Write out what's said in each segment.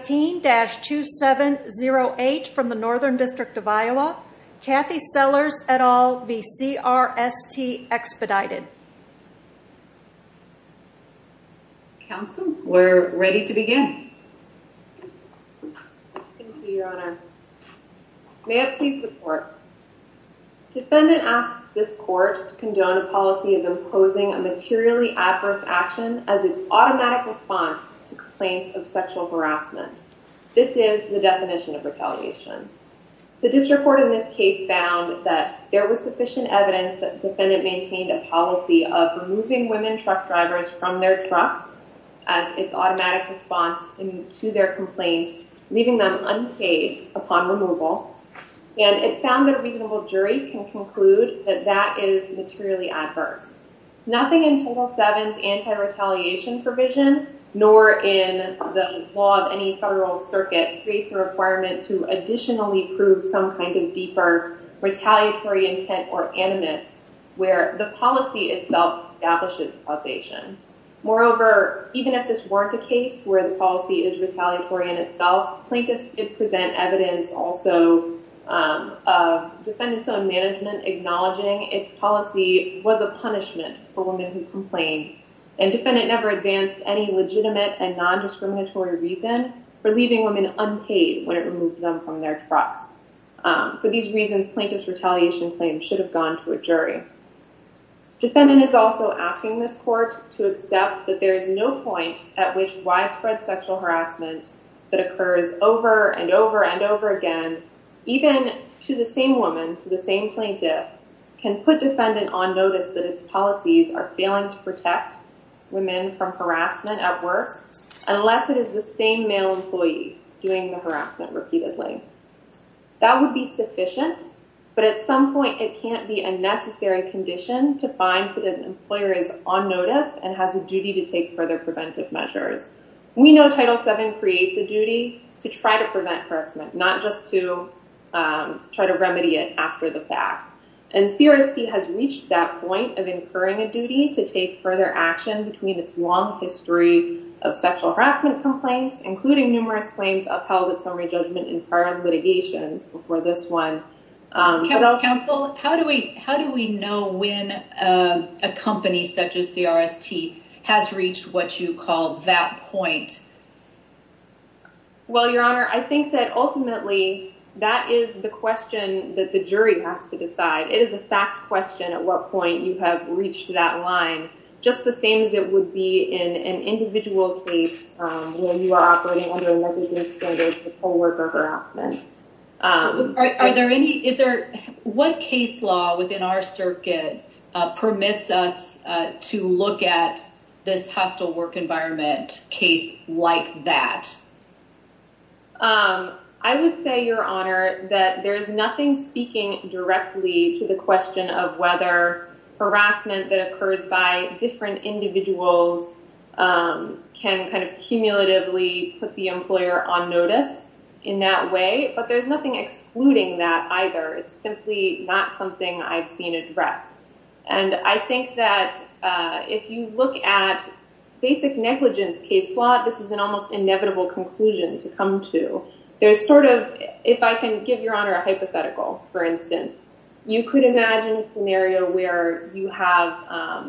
15-2708 from the Northern District of Iowa, Kathy Sellars et al. v. CRST Expedited. Counsel, we're ready to begin. Thank you, Your Honor. May I please report? Defendant asks this court to condone a policy of imposing a materially adverse action as its automatic response to complaints of sexual harassment. This is the definition of retaliation. The district court in this case found that there was sufficient evidence that the defendant maintained a policy of removing women truck drivers from their trucks as its automatic response to their complaints, leaving them unpaid upon removal. And it found that a reasonable jury can conclude that that is materially adverse. Nothing in Title VII's anti-retaliation provision, nor in the law of any federal circuit, creates a requirement to additionally prove some kind of deeper retaliatory intent or animus where the policy itself establishes causation. Moreover, even if this weren't a case where the policy is retaliatory in itself, plaintiffs did present evidence also of defendants on management acknowledging its policy was a punishment for women who complained. And defendant never advanced any legitimate and non-discriminatory reason for leaving women unpaid when it removed them from their trucks. For these reasons, plaintiff's retaliation claim should have gone to a jury. Defendant is also asking this court to accept that there is no point at which widespread sexual harassment that occurs over and over and over again, even to the same woman, to the same plaintiff, can put defendant on notice that its policies are failing to protect women from harassment at work unless it is the same male employee doing the harassment repeatedly. That would be sufficient, but at some point it can't be a necessary condition to find that an employer is on notice and has a duty to take further preventive measures. We know Title VII creates a duty to try to prevent harassment, not just to try to remedy it after the fact. And CRST has reached that point of incurring a duty to take further action between its long history of sexual harassment complaints, including numerous claims upheld at summary judgment in prior litigations before this one. Counsel, how do we how do we know when a company such as CRST has reached what you call that point? Well, Your Honor, I think that ultimately that is the question that the jury has to decide. It is a fact question at what point you have reached that line, just the same as it would be in an individual case where you are operating under a negligence standard for co-worker harassment. Are there any is there what case law within our circuit permits us to look at this hostile work environment case like that? I would say, Your Honor, that there is nothing speaking directly to the question of whether harassment that occurs by different individuals can kind of cumulatively put the employer on notice in that way. But there's nothing excluding that either. It's simply not something I've seen addressed. And I think that if you look at basic negligence case law, this is an almost inevitable conclusion to come to. There's sort of if I can give Your Honor a hypothetical, for instance, you could imagine an area where you have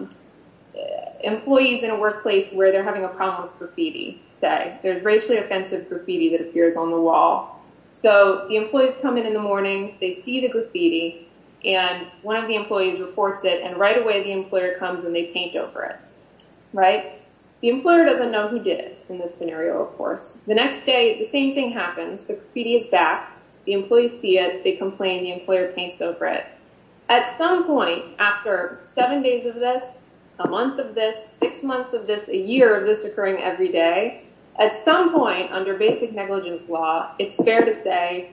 employees in a workplace where they're having a problem with graffiti, say, there's racially offensive graffiti that appears on the wall. So the employees come in in the morning, they see the graffiti, and one of the employees reports it, and right away the employer comes and they paint over it. Right? The employer doesn't know who did it in this scenario, of course. The next day, the same thing happens. The graffiti is back. The employees see it. They complain. The employer paints over it. At some point after seven days of this, a month of this, six months of this, a year of this occurring every day, at some point under basic negligence law, it's fair to say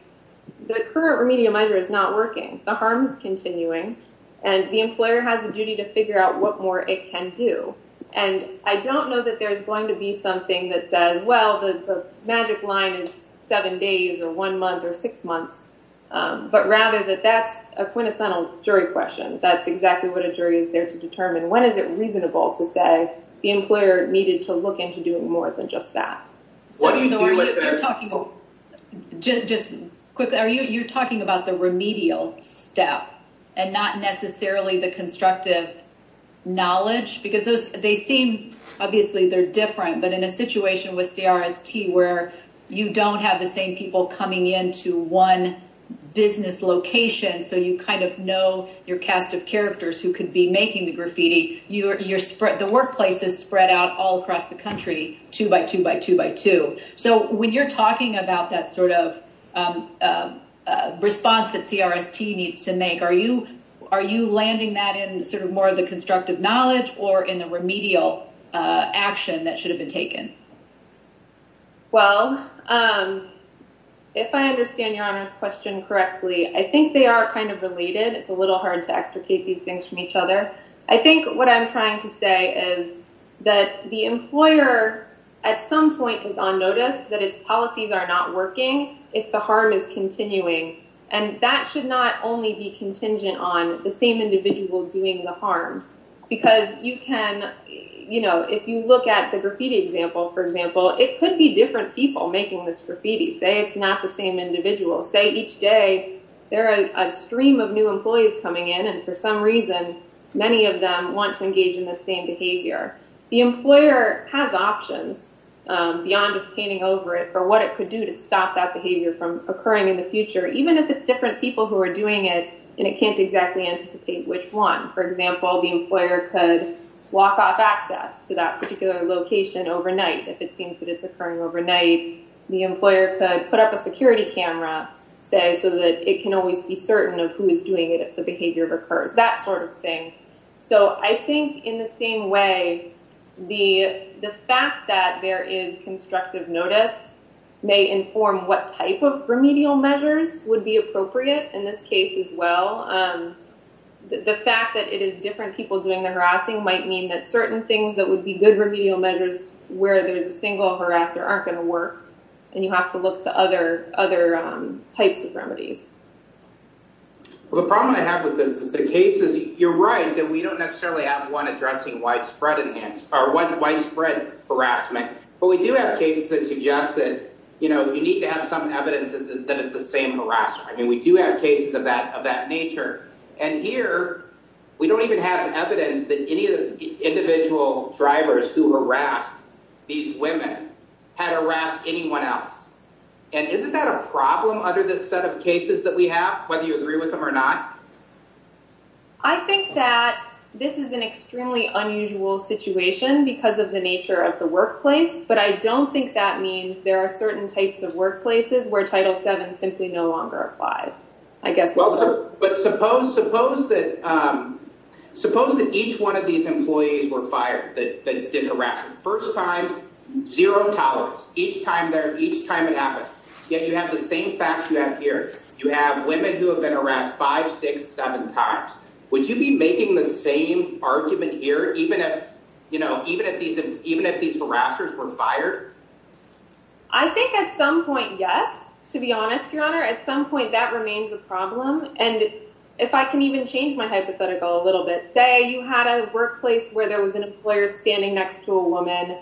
the current remedial measure is not working. The harm is continuing, and the employer has a duty to figure out what more it can do. And I don't know that there's going to be something that says, well, the magic line is seven days or one month or six months, but rather that that's a quintessential jury question. That's exactly what a jury is there to determine. When is it reasonable to say the employer needed to look into doing more than just that? Just quickly, you're talking about the remedial step and not necessarily the constructive knowledge, because they seem, obviously they're different, but in a situation with CRST where you don't have the same people coming into one business location, so you kind of know your cast of characters who could be making the graffiti, the workplace is spread out all across the country, two by two by two by two. So when you're talking about that sort of response that CRST needs to make, are you are you landing that in sort of more of the constructive knowledge or in the remedial action that should have been taken? Well, if I understand your question correctly, I think they are kind of related. It's a little hard to extricate these things from each other. I think what I'm trying to say is that the employer at some point is on notice that its policies are not working. And that should not only be contingent on the same individual doing the harm, because you can, you know, if you look at the graffiti example, for example, it could be different people making this graffiti, say it's not the same individual, say each day there are a stream of new employees coming in and for some reason, many of them want to engage in the same behavior. The employer has options beyond just painting over it for what it could do to stop that behavior from occurring in the future, even if it's different people who are doing it, and it can't exactly anticipate which one. For example, the employer could walk off access to that particular location overnight if it seems that it's occurring overnight. The employer could put up a security camera, say, so that it can always be certain of who is doing it if the behavior recurs, that sort of thing. So I think in the same way, the fact that there is constructive notice may inform what type of remedial measures would be appropriate in this case as well. The fact that it is different people doing the harassing might mean that certain things that would be good remedial measures where there's a single harasser aren't going to work, and you have to look to other types of remedies. Well, the problem I have with this is the cases, you're right, that we don't necessarily have one addressing widespread harassment, but we do have cases that suggest that you need to have some evidence that it's the same harasser. I mean, we do have cases of that nature. And here, we don't even have evidence that any of the individual drivers who harassed these women had harassed anyone else. And isn't that a problem under this set of cases that we have, whether you agree with them or not? I think that this is an extremely unusual situation because of the nature of the workplace, but I don't think that means there are certain types of workplaces where Title VII simply no longer applies. But suppose that each one of these employees were fired that did harassment. First time, zero tolerance each time it happens. Yet, you have the same facts you have here. You have women who have been harassed five, six, seven times. Would you be making the same argument here even if these harassers were fired? I think at some point, yes, to be honest, Your Honor. At some point, that remains a problem. And if I can even change my hypothetical a little bit, say you had a workplace where there was an employer standing next to a woman,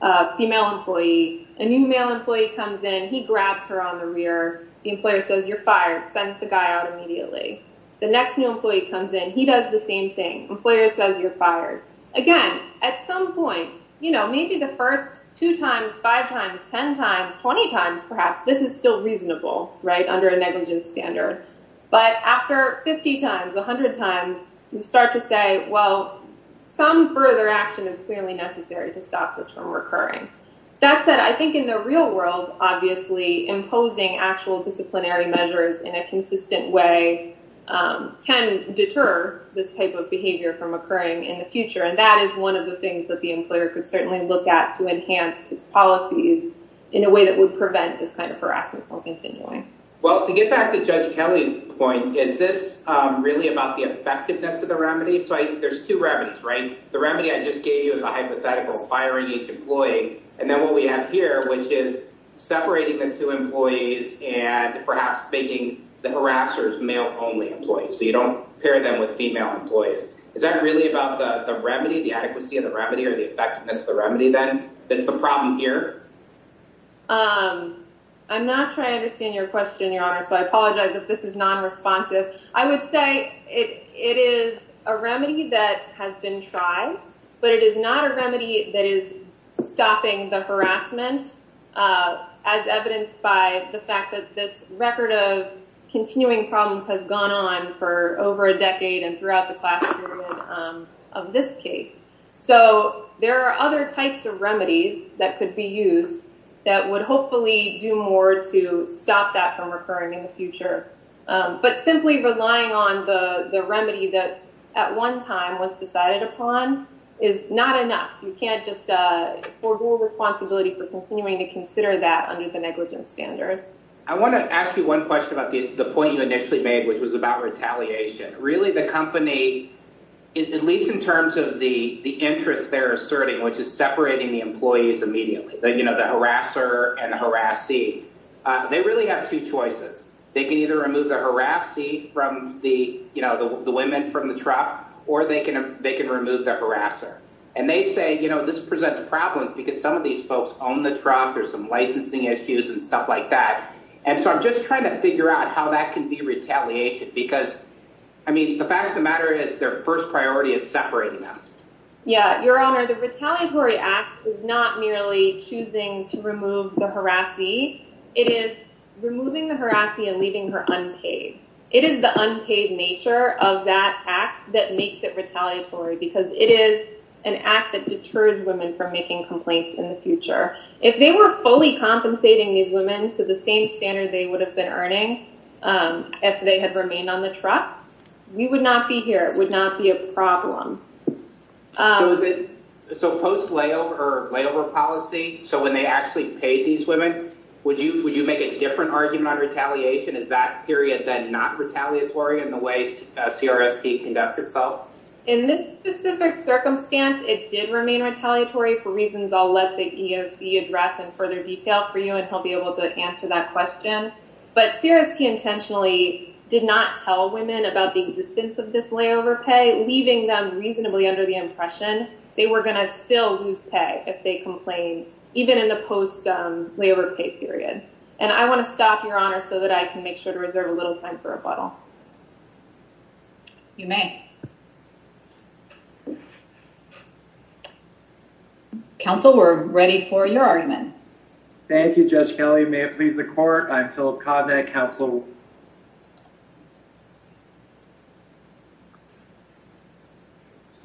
a female employee. A new male employee comes in. He grabs her on the rear. The employer says, you're fired, sends the guy out immediately. The next new employee comes in. He does the same thing. Employer says, you're fired. Again, at some point, you know, maybe the first two times, five times, 10 times, 20 times, perhaps this is still reasonable, right, under a negligence standard. But after 50 times, 100 times, you start to say, well, some further action is clearly necessary to stop this from recurring. That said, I think in the real world, obviously, imposing actual disciplinary measures in a consistent way can deter this type of behavior from occurring in the future. And that is one of the things that the employer could certainly look at to enhance its policies in a way that would prevent this kind of harassment from continuing. Well, to get back to Judge Kelly's point, is this really about the effectiveness of the remedy? So there's two remedies, right? The remedy I just gave you is a hypothetical firing each employee. And then what we have here, which is separating the two employees and perhaps making the harassers male-only employees. So you don't pair them with female employees. Is that really about the remedy, the adequacy of the remedy or the effectiveness of the remedy then? That's the problem here? I'm not trying to understand your question, Your Honor, so I apologize if this is non-responsive. I would say it is a remedy that has been tried, but it is not a remedy that is stopping the harassment, as evidenced by the fact that this record of continuing problems has gone on for over a decade and throughout the class of this case. So there are other types of remedies that could be used that would hopefully do more to stop that from occurring in the future. But simply relying on the remedy that at one time was decided upon is not enough. You can't just forgo responsibility for continuing to consider that under the negligence standard. I want to ask you one question about the point you initially made, which was about retaliation. Really, the company, at least in terms of the interest they're asserting, which is separating the employees immediately, the harasser and the harassee, they really have two choices. They can either remove the harassee from the women from the truck, or they can remove the harasser. And they say, you know, this presents problems because some of these folks own the truck, there's some licensing issues and stuff like that. And so I'm just trying to figure out how that can be retaliation. Because, I mean, the fact of the matter is their first priority is separating them. Yeah, Your Honor, the retaliatory act is not merely choosing to remove the harassee. It is removing the harassee and leaving her unpaid. It is the unpaid nature of that act that makes it retaliatory, because it is an act that deters women from making complaints in the future. If they were fully compensating these women to the same standard they would have been earning if they had remained on the truck, we would not be here. It would not be a problem. So post-layover or layover policy, so when they actually paid these women, would you make a different argument on retaliation? Is that period then not retaliatory in the way CRST conducts itself? In this specific circumstance, it did remain retaliatory for reasons I'll let the EOC address in further detail for you, and he'll be able to answer that question. But CRST intentionally did not tell women about the existence of this layover pay, leaving them reasonably under the impression they were going to still lose pay if they complained, even in the post-layover pay period. And I want to stop, Your Honor, so that I can make sure to reserve a little time for rebuttal. You may. Counsel, we're ready for your argument. Thank you, Judge Kelly. May it please the court. I'm Philip Kovnick, Counsel.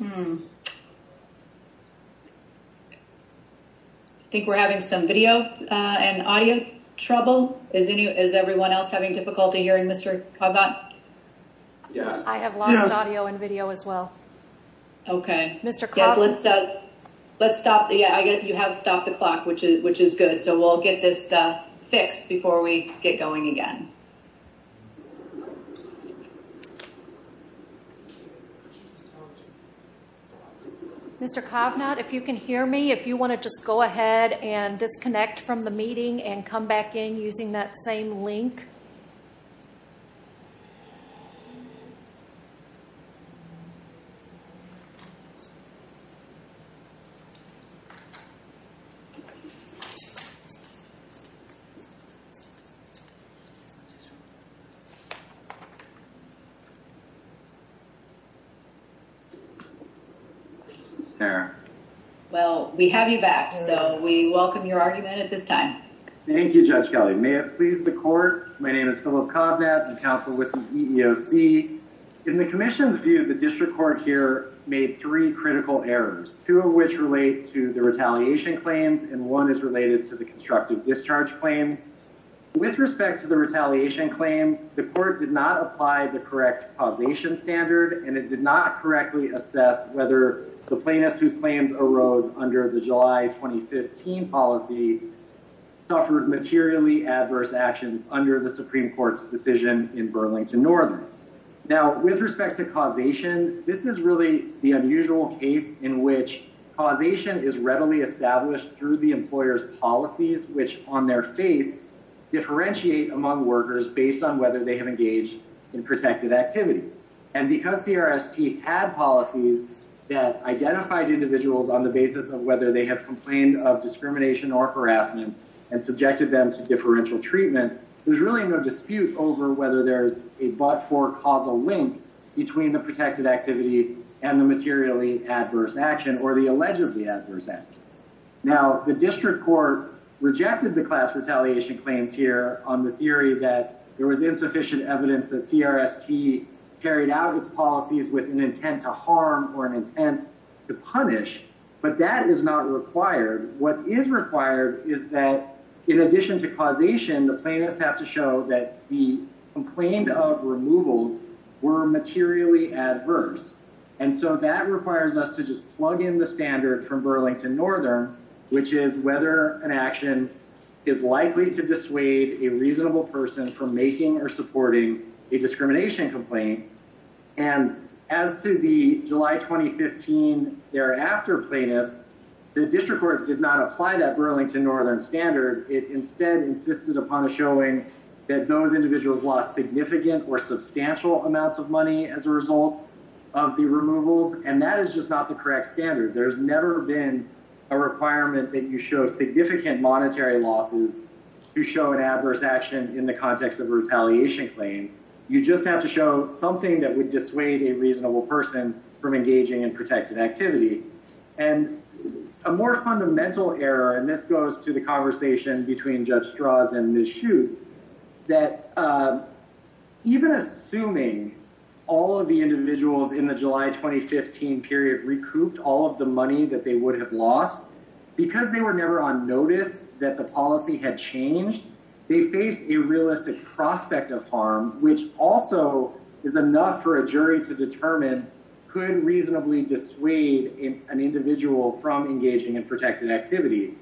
I think we're having some video and audio trouble. Is everyone else having difficulty hearing Mr. Kovnick? Yes. Okay. Mr. Kovnick? Let's stop. Yeah, you have stopped the clock, which is good, so we'll get this fixed before we get going again. Mr. Kovnick, if you can hear me, if you want to just go ahead and disconnect from the meeting and come back in using that same link. Okay. Well, we have you back, so we welcome your argument at this time. Thank you, Judge Kelly. May it please the court. My name is Philip Kovnick, Counsel with the EEOC. In the commission's view, the district court here made three critical errors, two of which relate to the retaliation claims, and one is related to the constructive discharge claims. With respect to the retaliation claims, the court did not apply the correct causation standard, and it did not correctly assess whether the plaintiffs whose claims arose under the July 2015 policy suffered materially adverse actions under the Supreme Court's decision in Burlington Northern. Now, with respect to causation, this is really the unusual case in which causation is readily established through the employer's policies, which on their face differentiate among workers based on whether they have engaged in protective activity. And because CRST had policies that identified individuals on the basis of whether they have complained of discrimination or harassment and subjected them to differential treatment, there's really no dispute over whether there's a but-for causal link between the protected activity and the materially adverse action or the allegedly adverse action. Now, the district court rejected the class retaliation claims here on the theory that there was insufficient evidence that CRST carried out its policies with an intent to harm or an intent to punish, but that is not required. What is required is that in addition to causation, the plaintiffs have to show that the complaint of removals were materially adverse, and so that requires us to just plug in the standard from Burlington Northern, which is whether an action is likely to dissuade a reasonable person from making or supporting a discrimination complaint. And as to the July 2015 thereafter plaintiffs, the district court did not apply that Burlington Northern standard. It instead insisted upon showing that those individuals lost significant or substantial amounts of money as a result of the removals, and that is just not the correct standard. There's never been a requirement that you show significant monetary losses to show an adverse action in the context of a retaliation claim. You just have to show something that would dissuade a reasonable person from engaging in protected activity. And a more fundamental error, and this goes to the conversation between Judge Strauss and Ms. Schutz, that even assuming all of the individuals in the July 2015 period recouped all of the money that they would have lost, because they were never on notice that the policy had changed, they faced a realistic prospect of harm, which also is enough for a jury to determine could reasonably dissuade an individual from engaging in protected activity.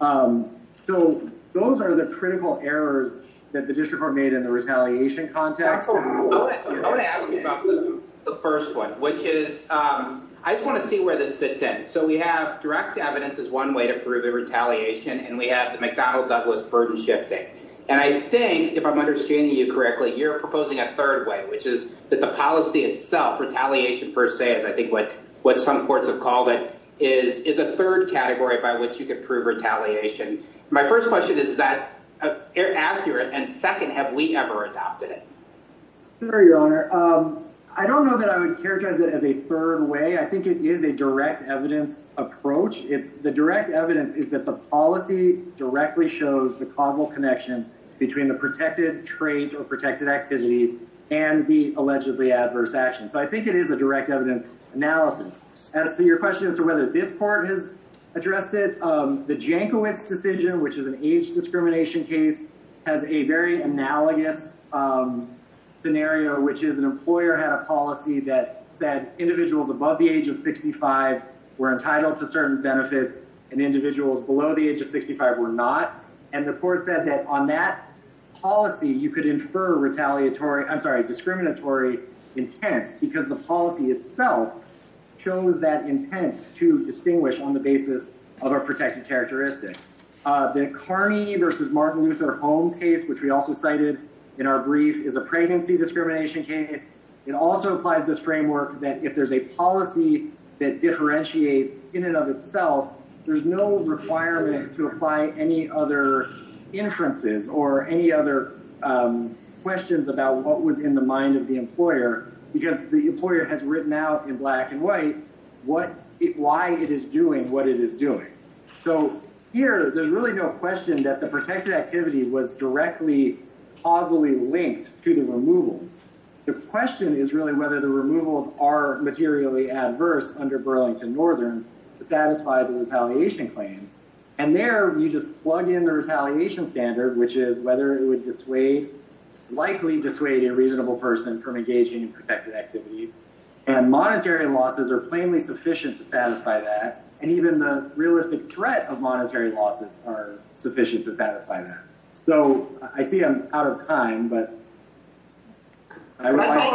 So those are the critical errors that the district court made in the retaliation context. I want to ask you about the first one, which is I just want to see where this fits in. So we have direct evidence is one way to prove the retaliation, and we have the McDonnell Douglas burden shifting. And I think if I'm understanding you correctly, you're proposing a third way, which is that the policy itself retaliation, per se, is I think what what some courts have called it is is a third category by which you can prove retaliation. My first question is, is that accurate? And second, have we ever adopted it? Your Honor, I don't know that I would characterize it as a third way. I think it is a direct evidence approach. It's the direct evidence is that the policy directly shows the causal connection between the protected trade or protected activity and the allegedly adverse action. So I think it is a direct evidence analysis. As to your question as to whether this part has addressed it, the Jankowitz decision, which is an age discrimination case, has a very analogous scenario, which is an employer had a policy that said individuals above the age of 65 were entitled to certain benefits and individuals below the age of 65 were not. And the court said that on that policy, you could infer retaliatory, I'm sorry, discriminatory intent because the policy itself shows that intent to distinguish on the basis of our protected characteristic. The Carney versus Martin Luther Holmes case, which we also cited in our brief is a pregnancy discrimination case. It also applies this framework that if there's a policy that differentiates in and of itself, there's no requirement to apply any other inferences or any other questions about what was in the mind of the employer, because the employer has written out in black and white what it why it is doing what it is doing. So here, there's really no question that the protected activity was directly causally linked to the removal. The question is really whether the removals are materially adverse under Burlington Northern to satisfy the retaliation claim. And there, you just plug in the retaliation standard, which is whether it would dissuade, likely dissuade a reasonable person from engaging in protected activity and monetary losses are plainly sufficient to satisfy that. And even the realistic threat of monetary losses are sufficient to satisfy that. So I see I'm out of time, but. Go ahead. I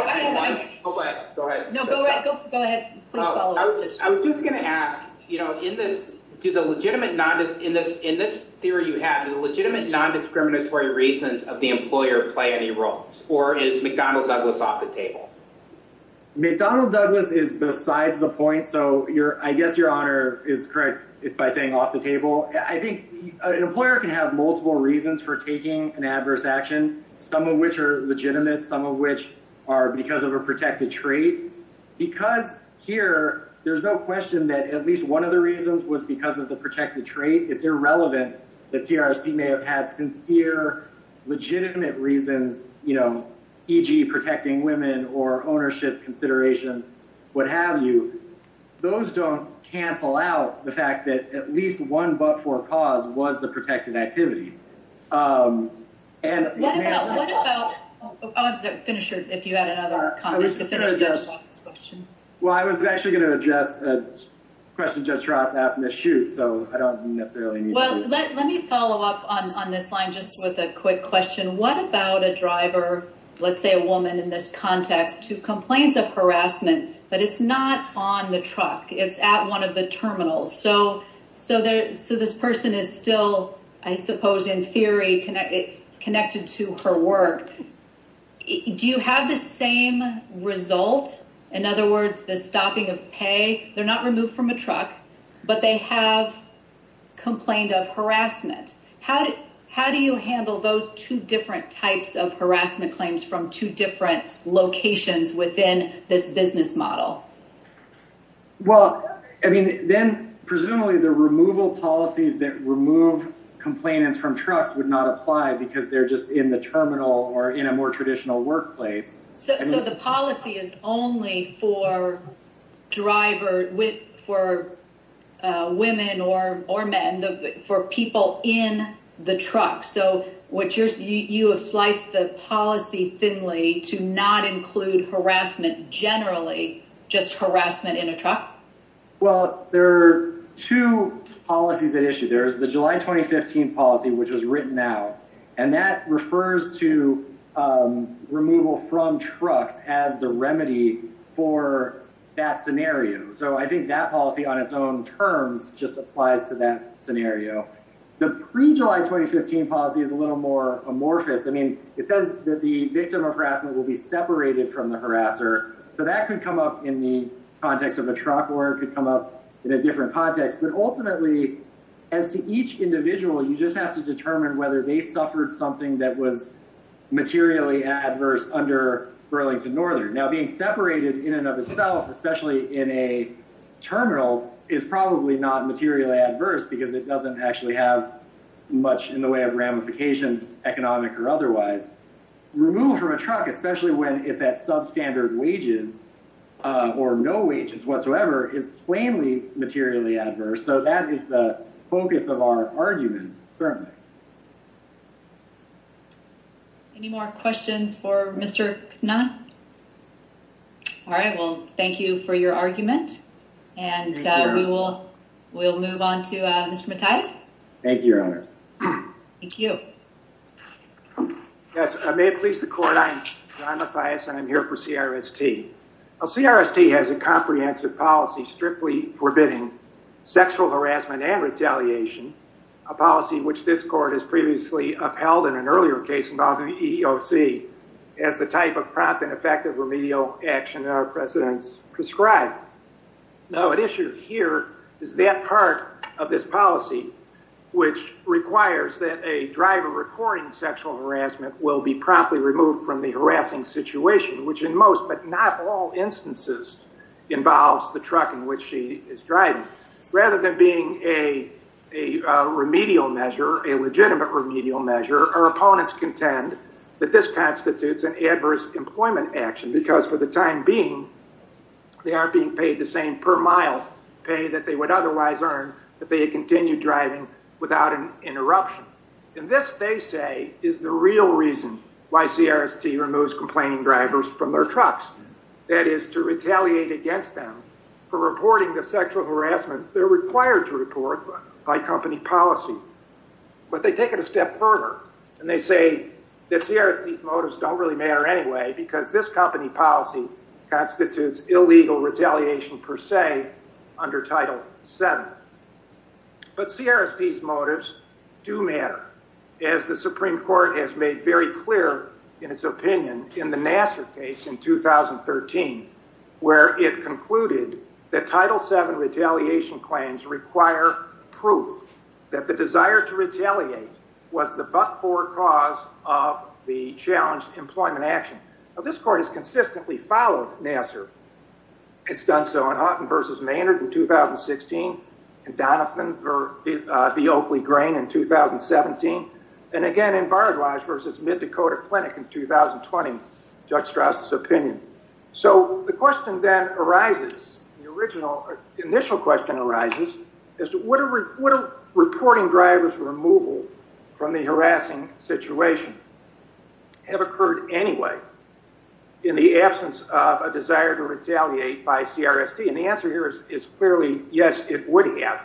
was just going to ask, you know, in this do the legitimate not in this in this theory, you have a legitimate nondiscriminatory reasons of the employer play any roles or is McDonnell Douglas off the table. McDonnell Douglas is besides the point. So you're I guess your honor is correct. It's by saying off the table. I think an employer can have multiple reasons for taking an adverse action, some of which are legitimate, some of which are because of a protected tree. Because here, there's no question that at least one of the reasons was because of the protected tree. It's irrelevant that CRC may have had sincere legitimate reasons, you know, e.g. protecting women or ownership considerations. What have you. Those don't cancel out the fact that at least one but for cause was the protected activity. And what about the finisher? If you had another question? Well, I was actually going to address a question. Judge Ross asked me to shoot, so I don't necessarily need. Well, let let me follow up on this line. Just with a quick question. What about a driver? Let's say a woman in this context to complaints of harassment, but it's not on the truck. It's at one of the terminals. So this person is still, I suppose, in theory, connected to her work. Do you have the same result? In other words, the stopping of pay? They're not removed from a truck, but they have complained of harassment. How do you handle those two different types of harassment claims from two different locations within this business model? Well, I mean, then presumably the removal policies that remove complainants from trucks would not apply because they're just in the terminal or in a more traditional workplace. So the policy is only for driver with for women or or men for people in the truck. So what you're you have sliced the policy thinly to not include harassment generally, just harassment in a truck. Well, there are two policies at issue. There's the July 2015 policy, which was written out, and that refers to removal from trucks as the remedy for that scenario. So I think that policy on its own terms just applies to that scenario. The pre-July 2015 policy is a little more amorphous. I mean, it says that the victim of harassment will be separated from the harasser. So that could come up in the context of a truck or could come up in a different context. But ultimately, as to each individual, you just have to determine whether they suffered something that was materially adverse under Burlington Northern. Now being separated in and of itself, especially in a terminal, is probably not materially adverse because it doesn't actually have much in the way of ramifications, economic or otherwise. Removal from a truck, especially when it's at substandard wages or no wages whatsoever, is plainly materially adverse. So that is the focus of our argument. Any more questions for Mr. Knapp? All right, well, thank you for your argument. And we will we'll move on to Mr. Matthias. Thank you, Your Honor. Thank you. Yes, I may please the court. I'm John Matthias and I'm here for CRST. CRST has a comprehensive policy strictly forbidding sexual harassment and retaliation, a policy which this court has previously upheld in an earlier case involving EEOC as the type of prompt and effective remedial action that our precedents prescribe. Now, an issue here is that part of this policy, which requires that a driver reporting sexual harassment will be promptly removed from the harassing situation, which in most but not all instances involves the truck in which she is driving. Rather than being a remedial measure, a legitimate remedial measure, our opponents contend that this constitutes an adverse employment action because for the time being they aren't being paid the same per mile pay that they would otherwise earn if they had continued driving without an interruption. And this, they say, is the real reason why CRST removes complaining drivers from their trucks, that is to retaliate against them for reporting the sexual harassment they're required to report by company policy. But they take it a step further and they say that CRST's motives don't really matter anyway because this company policy constitutes illegal retaliation per se under Title VII. But CRST's motives do matter as the Supreme Court has made very clear in its opinion in the Nassar case in 2013 where it concluded that Title VII retaliation claims require proof that the desire to retaliate was the but-for cause of the challenged employment action. Now this court has consistently followed Nassar. It's done so in Houghton v. Maynard in 2016, in Donovan v. Oakley-Grain in 2017, and again in Baradwaj v. Mid-Dakota Clinic in 2020, Judge Strauss's opinion. So the question then arises, the initial question arises, as to would a reporting driver's removal from the harassing situation have occurred anyway in the absence of a desire to retaliate by CRST? And the answer here is clearly yes, it would have.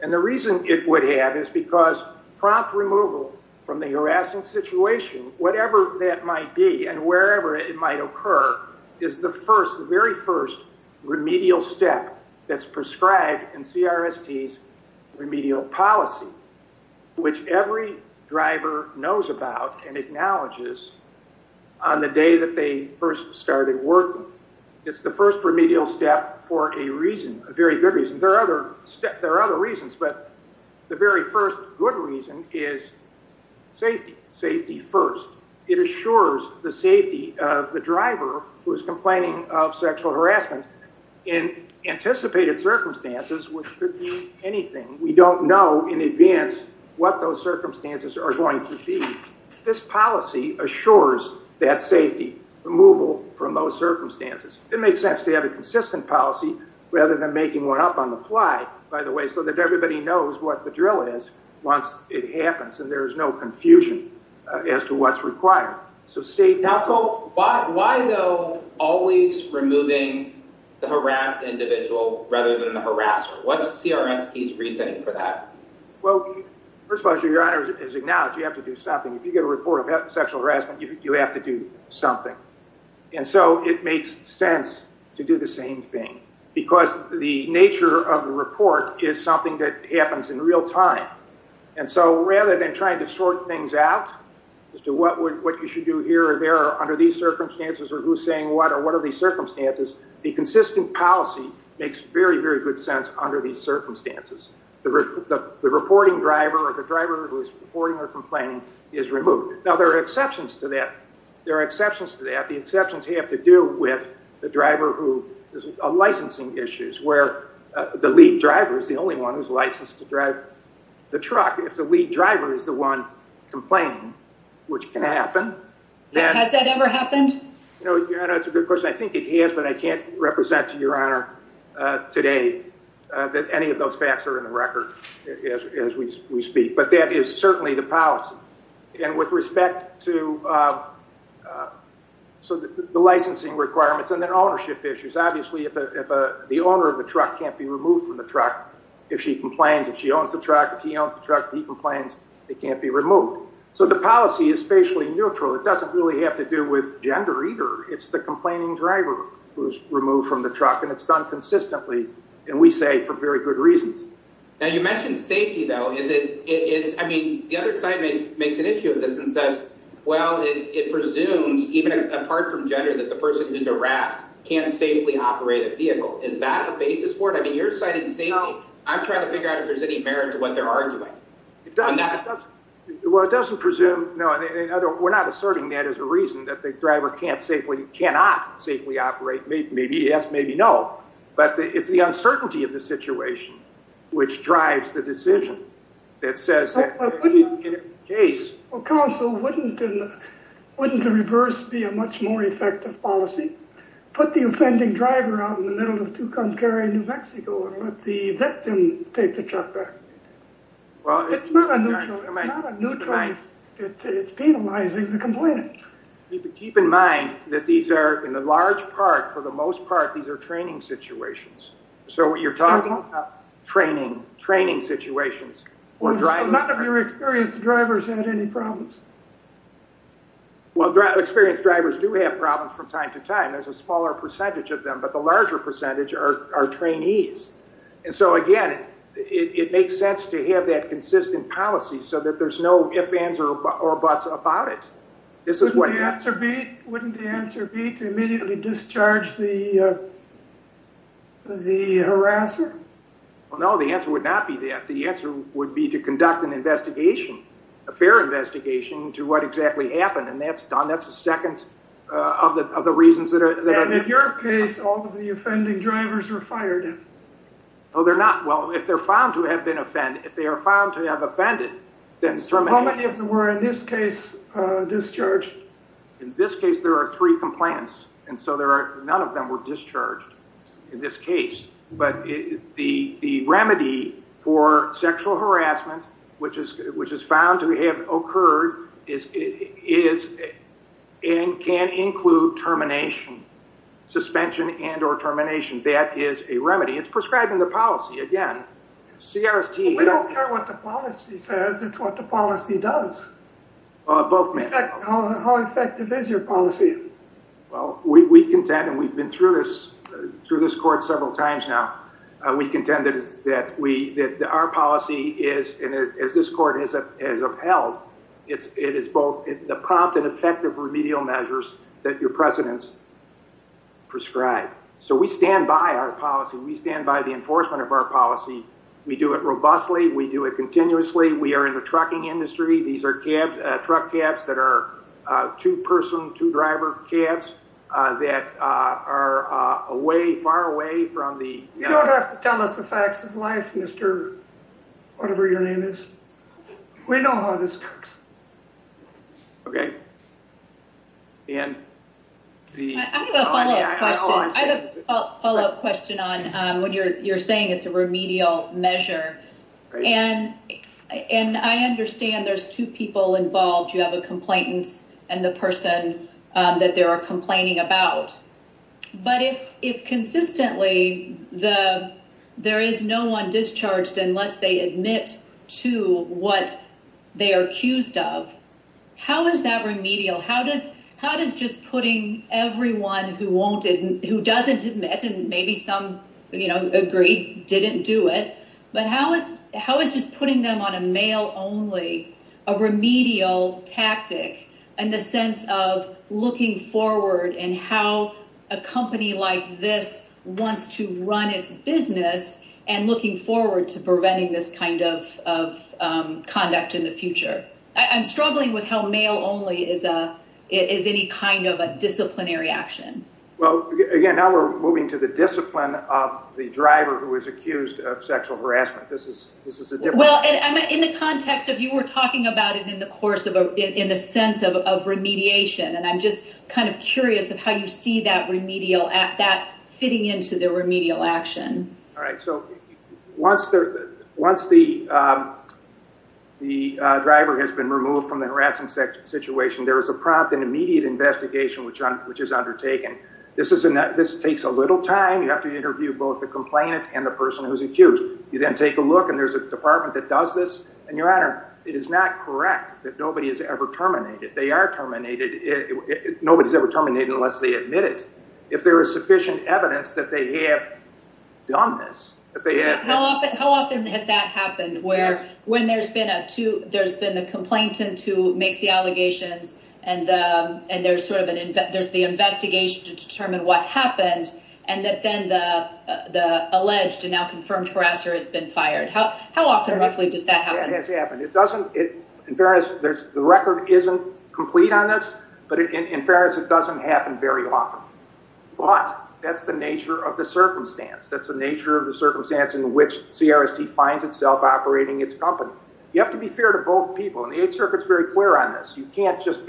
And the reason it would have is because prompt removal from the harassing situation, whatever that might be and wherever it might occur, is the first, the very first remedial step that's prescribed in CRST's remedial policy, which every driver knows about and acknowledges on the day that they first started working. So it's the first remedial step for a reason, a very good reason. There are other reasons, but the very first good reason is safety, safety first. It assures the safety of the driver who is complaining of sexual harassment in anticipated circumstances, which could be anything. We don't know in advance what those circumstances are going to be. This policy assures that safety, removal from those circumstances. It makes sense to have a consistent policy rather than making one up on the fly, by the way, so that everybody knows what the drill is once it happens and there is no confusion as to what's required. Why, though, always removing the harassed individual rather than the harasser? What's CRST's reasoning for that? It makes sense to have a consistent policy rather than making one up on the fly, by the way, so that everybody knows what the drill is once it happens and there is no confusion as to what's CRST's reasoning for that? Has that ever happened? It doesn't really have to do with gender, either. It's the complaining driver who's removed from the truck, and it's done consistently, and we say for very good reasons. Now, you mentioned safety, though. The other side makes an issue of this and says, well, it presumes, even apart from gender, that the person who's harassed can't safely operate a vehicle. Is that a basis for it? I mean, you're citing safety. I'm trying to figure out if there's any merit to what they're arguing. Well, it doesn't presume. We're not asserting that as a reason that the driver cannot safely operate. Maybe yes, maybe no, but it's the uncertainty of the situation which drives the decision. Well, wouldn't the reverse be a much more effective policy? Put the offending driver out in the middle of Tucumcari, New Mexico, and let the victim take the truck back. It's not a neutral. It's not a neutral. It's penalizing the complainant. Keep in mind that these are, in the large part, for the most part, these are training situations. So what you're talking about, training situations. So none of your experienced drivers had any problems? Well, experienced drivers do have problems from time to time. There's a smaller percentage of them, but the larger percentage are trainees. And so, again, it makes sense to have that consistent policy so that there's no ifs, ands, or buts about it. Wouldn't the answer be to immediately discharge the harasser? Well, no, the answer would not be that. The answer would be to conduct an investigation, a fair investigation, into what exactly happened, and that's a second of the reasons that are... And in your case, all of the offending drivers were fired. No, they're not. Well, if they're found to have been offended, if they are found to have offended, then... So how many of them were, in this case, discharged? In this case, there are three complainants, and so none of them were discharged in this case. But the remedy for sexual harassment, which is found to have occurred, can include termination, suspension and or termination. That is a remedy. It's prescribing the policy, again. CRST... We don't care what the policy says, it's what the policy does. How effective is your policy? Well, we contend, and we've been through this court several times now, we contend that our policy is, and as this court has upheld, it is both the prompt and effective remedial measures that your precedents prescribe. So we stand by our policy. We stand by the enforcement of our policy. We do it robustly. We do it continuously. We are in the trucking industry. These are cabs, truck cabs that are two-person, two-driver cabs that are away, far away from the... You don't have to tell us the facts of life, Mr. Whatever-Your-Name-Is. We know how this works. Okay. And the... I have a follow-up question on what you're saying, it's a remedial measure. And I understand there's two people involved. You have a complainant and the person that they are complaining about. But if consistently there is no one discharged unless they admit to what they are accused of, how is that remedial? How does just putting everyone who doesn't admit, and maybe some agree didn't do it, but how is just putting them on a mail-only, a remedial tactic in the sense of looking forward and how a company like this wants to run its business and looking forward to preventing this kind of conduct in the future? I'm struggling with how mail-only is any kind of a disciplinary action. Well, again, now we're moving to the discipline of the driver who is accused of sexual harassment. This is a different... Well, in the context of you were talking about it in the sense of remediation, and I'm just kind of curious of how you see that fitting into the remedial action. All right. So once the driver has been removed from the harassment situation, there is a prompt and immediate investigation which is undertaken. This takes a little time. You have to interview both the complainant and the person who's accused. You then take a look and there's a department that does this. And Your Honor, it is not correct that nobody is ever terminated. They are terminated. Nobody's ever terminated unless they admit it. If there is sufficient evidence that they have done this, if they have... And that then the alleged and now confirmed harasser has been fired. How often roughly does that happen? It has happened. In fairness, the record isn't complete on this, but in fairness, it doesn't happen very often. But that's the nature of the circumstance. That's the nature of the circumstance in which CRST finds itself operating its company. You have to be fair to both people. And the Eighth Circuit's very clear on this. You can't just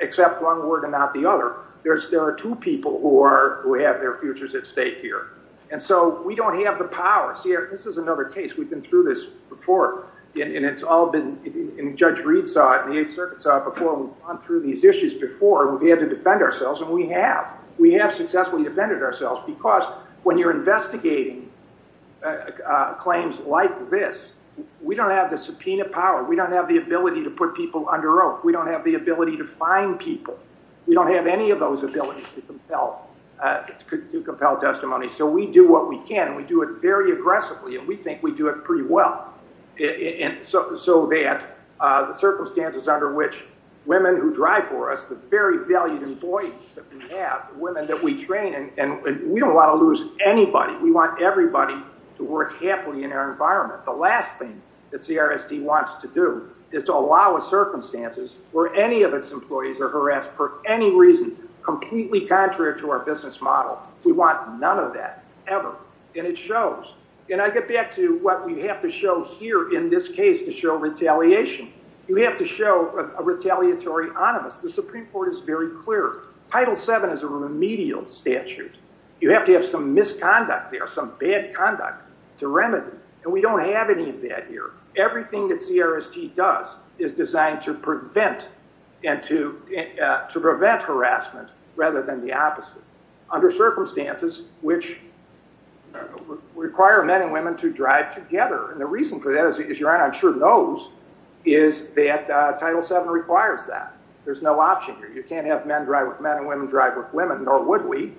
accept one word and not the other. There are two people who have their futures at stake here. And so we don't have the power. See, this is another case. We've been through this before. And it's all been... And Judge Reed saw it and the Eighth Circuit saw it before we've gone through these issues before. We've had to defend ourselves and we have. We have successfully defended ourselves because when you're investigating claims like this, we don't have the subpoena power. We don't have the ability to put people under oath. We don't have the ability to fine people. We don't have any of those abilities to compel testimony. So we do what we can. And we do it very aggressively. And we think we do it pretty well. And so that the circumstances under which women who drive for us, the very valued employees that we have, the women that we train, and we don't want to lose anybody. We want everybody to work happily in our environment. The last thing that CRSD wants to do is to allow a circumstances where any of its employees are harassed for any reason, completely contrary to our business model. We want none of that ever. And it shows. And I get back to what we have to show here in this case to show retaliation. You have to show a retaliatory onus. The Supreme Court is very clear. Title VII is a remedial statute. You have to have some misconduct there, some bad conduct to remedy. And we don't have any of that here. Everything that CRSD does is designed to prevent harassment rather than the opposite under circumstances which require men and women to drive together. And the reason for that, as your Honor I'm sure knows, is that Title VII requires that. There's no option here. You can't have men drive with men and women drive with women, nor would we.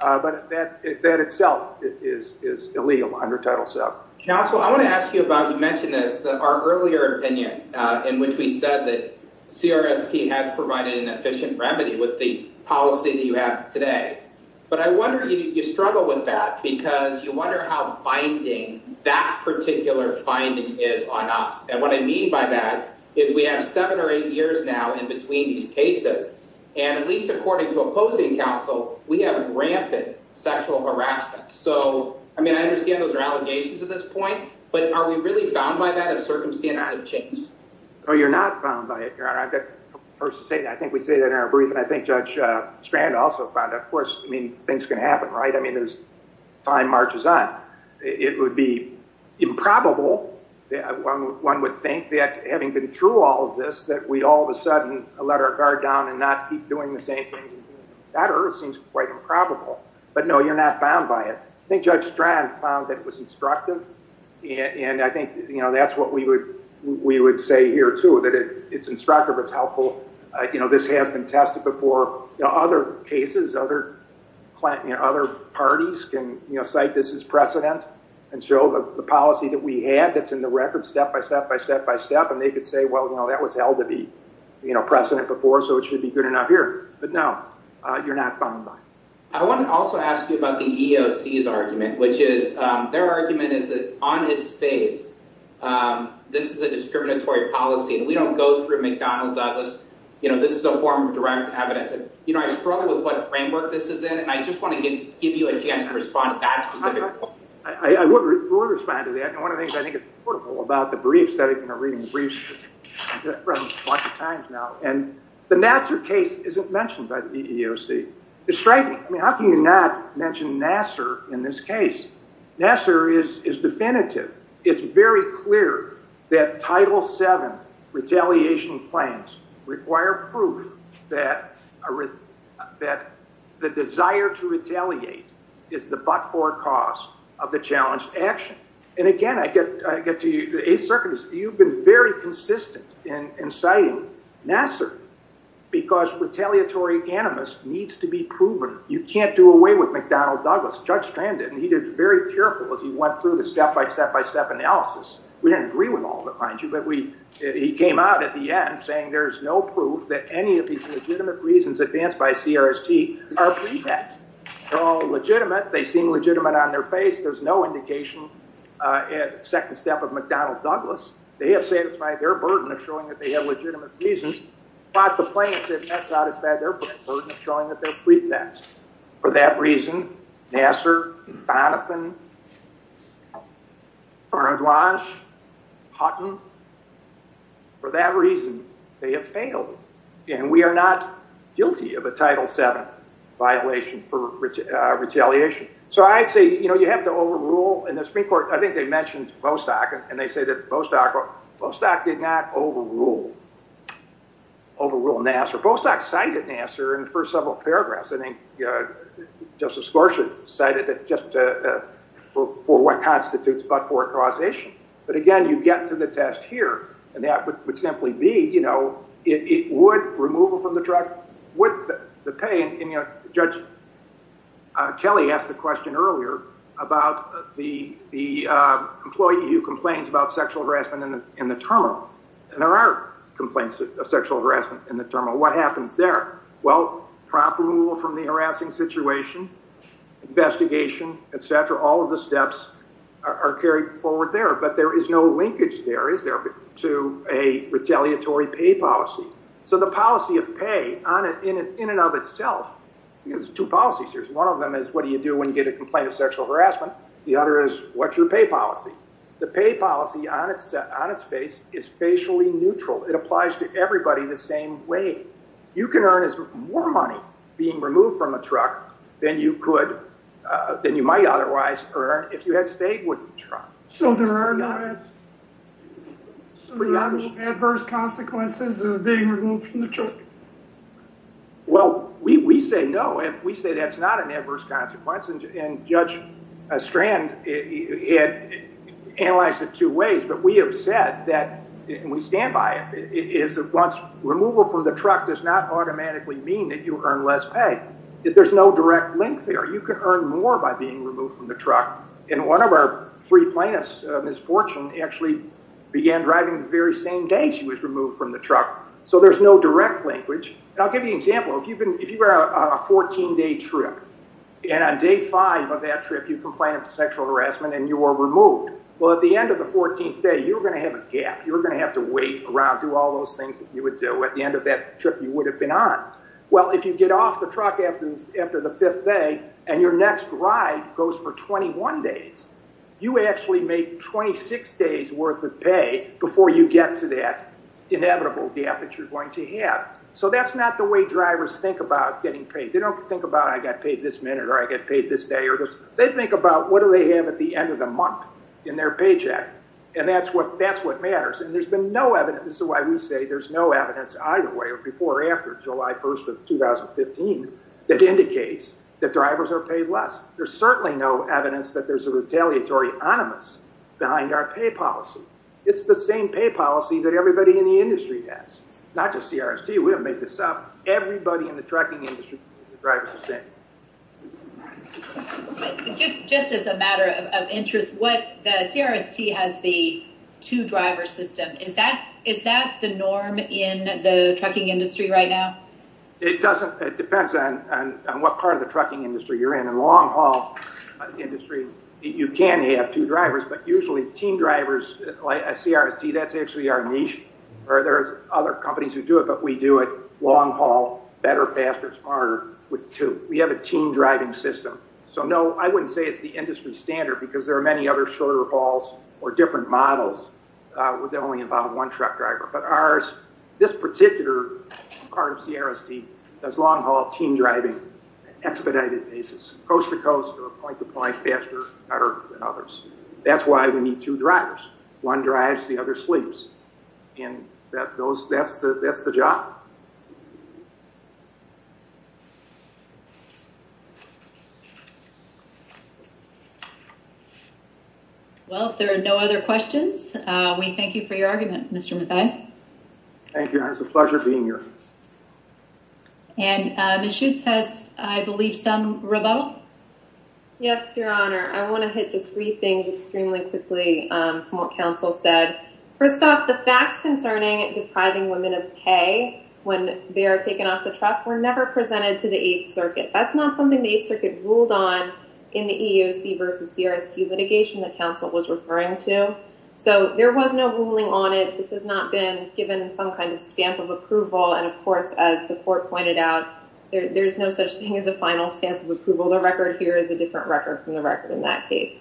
But that itself is illegal under Title VII. Counsel, I want to ask you about, you mentioned this, our earlier opinion in which we said that CRSD has provided an efficient remedy with the policy that you have today. But I wonder, you struggle with that because you wonder how binding that particular finding is on us. And what I mean by that is we have seven or eight years now in between these cases, and at least according to opposing counsel, we have rampant sexual harassment. So, I mean, I understand those are allegations at this point, but are we really bound by that if circumstances have changed? No, you're not bound by it, Your Honor. I think we stated that in our brief, and I think Judge Strand also found that. Of course, I mean, things can happen, right? I mean, as time marches on. It would be improbable, one would think, that having been through all of this, that we all of a sudden let our guard down and not keep doing the same thing. That seems quite improbable. But no, you're not bound by it. I think Judge Strand found that it was instructive, and I think that's what we would say here, too, that it's instructive, it's helpful. This has been tested before. Other cases, other parties can cite this as precedent and show the policy that we had that's in the record step by step by step by step, and they could say, well, that was held to be precedent before, so it should be good enough here. But no, you're not bound by it. I want to also ask you about the EEOC's argument, which is, their argument is that on its face, this is a discriminatory policy, and we don't go through McDonnell Douglas. This is a form of direct evidence. I struggle with what framework this is in, and I just want to give you a chance to respond to that specific point. I would respond to that, and one of the things I think is notable about the briefs, I've read them a bunch of times now, and the Nassar case isn't mentioned by the EEOC. It's striking. I mean, how can you not mention Nassar in this case? Nassar is definitive. It's very clear that Title VII retaliation plans require proof that the desire to retaliate is the but-for cause of the challenged action. And again, I get to you, the Eighth Circuit, you've been very consistent in citing Nassar, because retaliatory animus needs to be proven. You can't do away with McDonnell Douglas. Judge Strand did, and he was very careful as he went through the step-by-step-by-step analysis. We didn't agree with all of it, mind you, but he came out at the end saying there's no proof that any of these legitimate reasons advanced by CRST are pre-met. They're all legitimate. They seem legitimate on their face. There's no indication in the second step of McDonnell Douglas. They have satisfied their burden of showing that they have legitimate reasons, but the plaintiffs have not satisfied their burden of showing that they're pre-taxed. For that reason, Nassar, Donathan, Bernadouache, Hutton, for that reason, they have failed. And we are not guilty of a Title VII violation for retaliation. So I'd say, you know, you have to overrule. In the Supreme Court, I think they mentioned Bostock, and they say that Bostock did not overrule Nassar. Bostock cited Nassar in the first several paragraphs. I think Justice Gorsuch cited it just for what constitutes but for a causation. But, again, you get to the test here, and that would simply be, you know, it would, removal from the truck, would the pay. And, you know, Judge Kelly asked a question earlier about the employee who complains about sexual harassment in the terminal. And there are complaints of sexual harassment in the terminal. What happens there? Well, prompt removal from the harassing situation, investigation, etc. All of the steps are carried forward there. But there is no linkage there, is there, to a retaliatory pay policy. So the policy of pay, in and of itself, there's two policies here. One of them is, what do you do when you get a complaint of sexual harassment? The other is, what's your pay policy? The pay policy on its face is facially neutral. It applies to everybody the same way. You can earn more money being removed from a truck than you might otherwise earn if you had stayed with the truck. So there are no adverse consequences of being removed from the truck? Well, we say no. We say that's not an adverse consequence. And Judge Strand analyzed it two ways. But we have said that, and we stand by it, is that once removal from the truck does not automatically mean that you earn less pay. There's no direct link there. You can earn more by being removed from the truck. And one of our three plaintiffs, Ms. Fortune, actually began driving the very same day she was removed from the truck. So there's no direct linkage. And I'll give you an example. If you were on a 14-day trip, and on day five of that trip you complained of sexual harassment and you were removed, well, at the end of the 14th day, you were going to have a gap. You were going to have to wait around, do all those things that you would do at the end of that trip you would have been on. Well, if you get off the truck after the fifth day and your next ride goes for 21 days, you actually make 26 days worth of pay before you get to that inevitable gap that you're going to have. So that's not the way drivers think about getting paid. They don't think about I got paid this minute or I got paid this day. They think about what do they have at the end of the month in their paycheck. And that's what matters. And there's been no evidence. This is why we say there's no evidence either way, before or after July 1st of 2015, that indicates that drivers are paid less. There's certainly no evidence that there's a retaliatory onus behind our pay policy. It's the same pay policy that everybody in the industry has. Not just CRST. We haven't made this up. Everybody in the trucking industry, the drivers are the same. Just as a matter of interest, the CRST has the two driver system. Is that the norm in the trucking industry right now? It depends on what part of the trucking industry you're in. In the long haul industry, you can have two drivers, but usually team drivers like CRST, that's actually our niche. There's other companies who do it, but we do it long haul, better, faster, smarter with two. We have a team driving system. So no, I wouldn't say it's the industry standard, because there are many other shorter hauls or different models that only involve one truck driver. But ours, this particular part of CRST, does long haul team driving on an expedited basis, coast to coast or point to point, faster, better than others. That's why we need two drivers. One drives, the other sleeps. And that's the job. Well, if there are no other questions, we thank you for your argument, Mr. Mathias. Thank you. It's a pleasure being here. And Ms. Schutz has, I believe, some rebuttal. Yes, Your Honor. I want to hit just three things extremely quickly from what counsel said. First off, the facts concerning depriving women of pay when they are taken off the truck were never presented to the Eighth Circuit. That's not something the Eighth Circuit ruled on in the EEOC versus CRST litigation that counsel was referring to. So there was no ruling on it. This has not been given some kind of stamp of approval. And of course, as the court pointed out, there's no such thing as a final stamp of approval. The record here is a different record from the record in that case.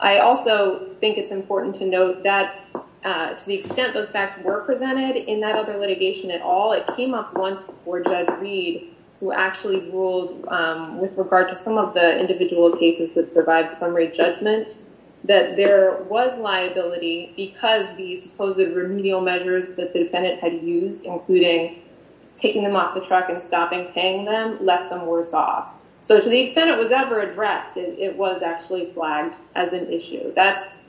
I also think it's important to note that to the extent those facts were presented in that other litigation at all, it came up once before Judge Reed, who actually ruled with regard to some of the individual cases that survived summary judgment, that there was liability because the supposed remedial measures that the defendant had used, including taking them off the truck and stopping paying them, left them worse off. So to the extent it was ever addressed, it was actually flagged as an issue. That's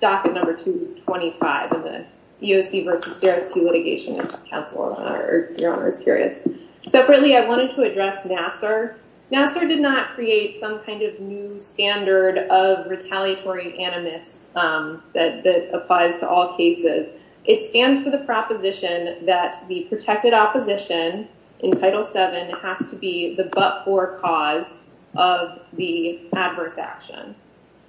docket number 225 in the EEOC versus CRST litigation, if counsel or Your Honor is curious. Separately, I wanted to address Nassar. Nassar did not create some kind of new standard of retaliatory animus that applies to all cases. It stands for the proposition that the protected opposition in Title VII has to be the but-for cause of the adverse action.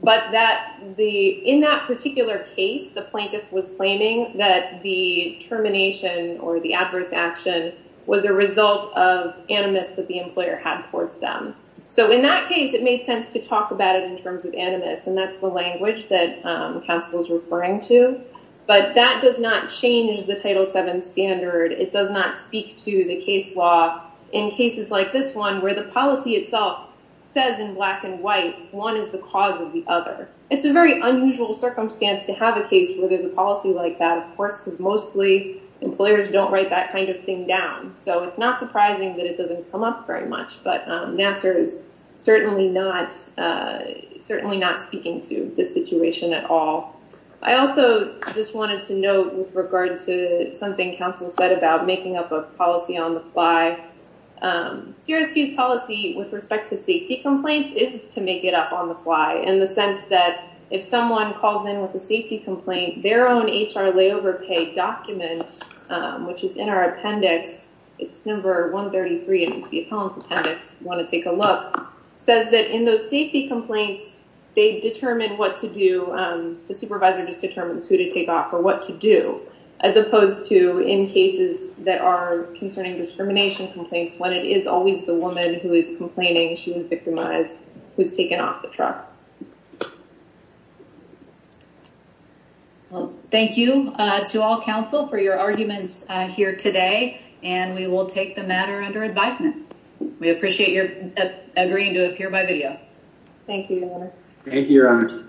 But in that particular case, the plaintiff was claiming that the termination or the adverse action was a result of animus that the employer had towards them. So in that case, it made sense to talk about it in terms of animus, and that's the language that counsel is referring to. But that does not change the Title VII standard. It does not speak to the case law in cases like this one, where the policy itself says in black and white, one is the cause of the other. It's a very unusual circumstance to have a case where there's a policy like that, of course, because mostly employers don't write that kind of thing down. So it's not surprising that it doesn't come up very much, but Nassar is certainly not speaking to this situation at all. I also just wanted to note with regard to something counsel said about making up a policy on the fly. CSU's policy with respect to safety complaints is to make it up on the fly in the sense that if someone calls in with a safety complaint, their own HR layover pay document, which is in our appendix—it's number 133 in the appellant's appendix, if you want to take a look—says that in those safety complaints, they determine what to do. The supervisor just determines who to take off or what to do, as opposed to in cases that are concerning discrimination complaints, when it is always the woman who is complaining she was victimized who's taken off the truck. Thank you to all counsel for your arguments here today, and we will take the matter under advisement. We appreciate your agreeing to appear by video. Thank you, Your Honor. Thank you, Your Honor. Thank you.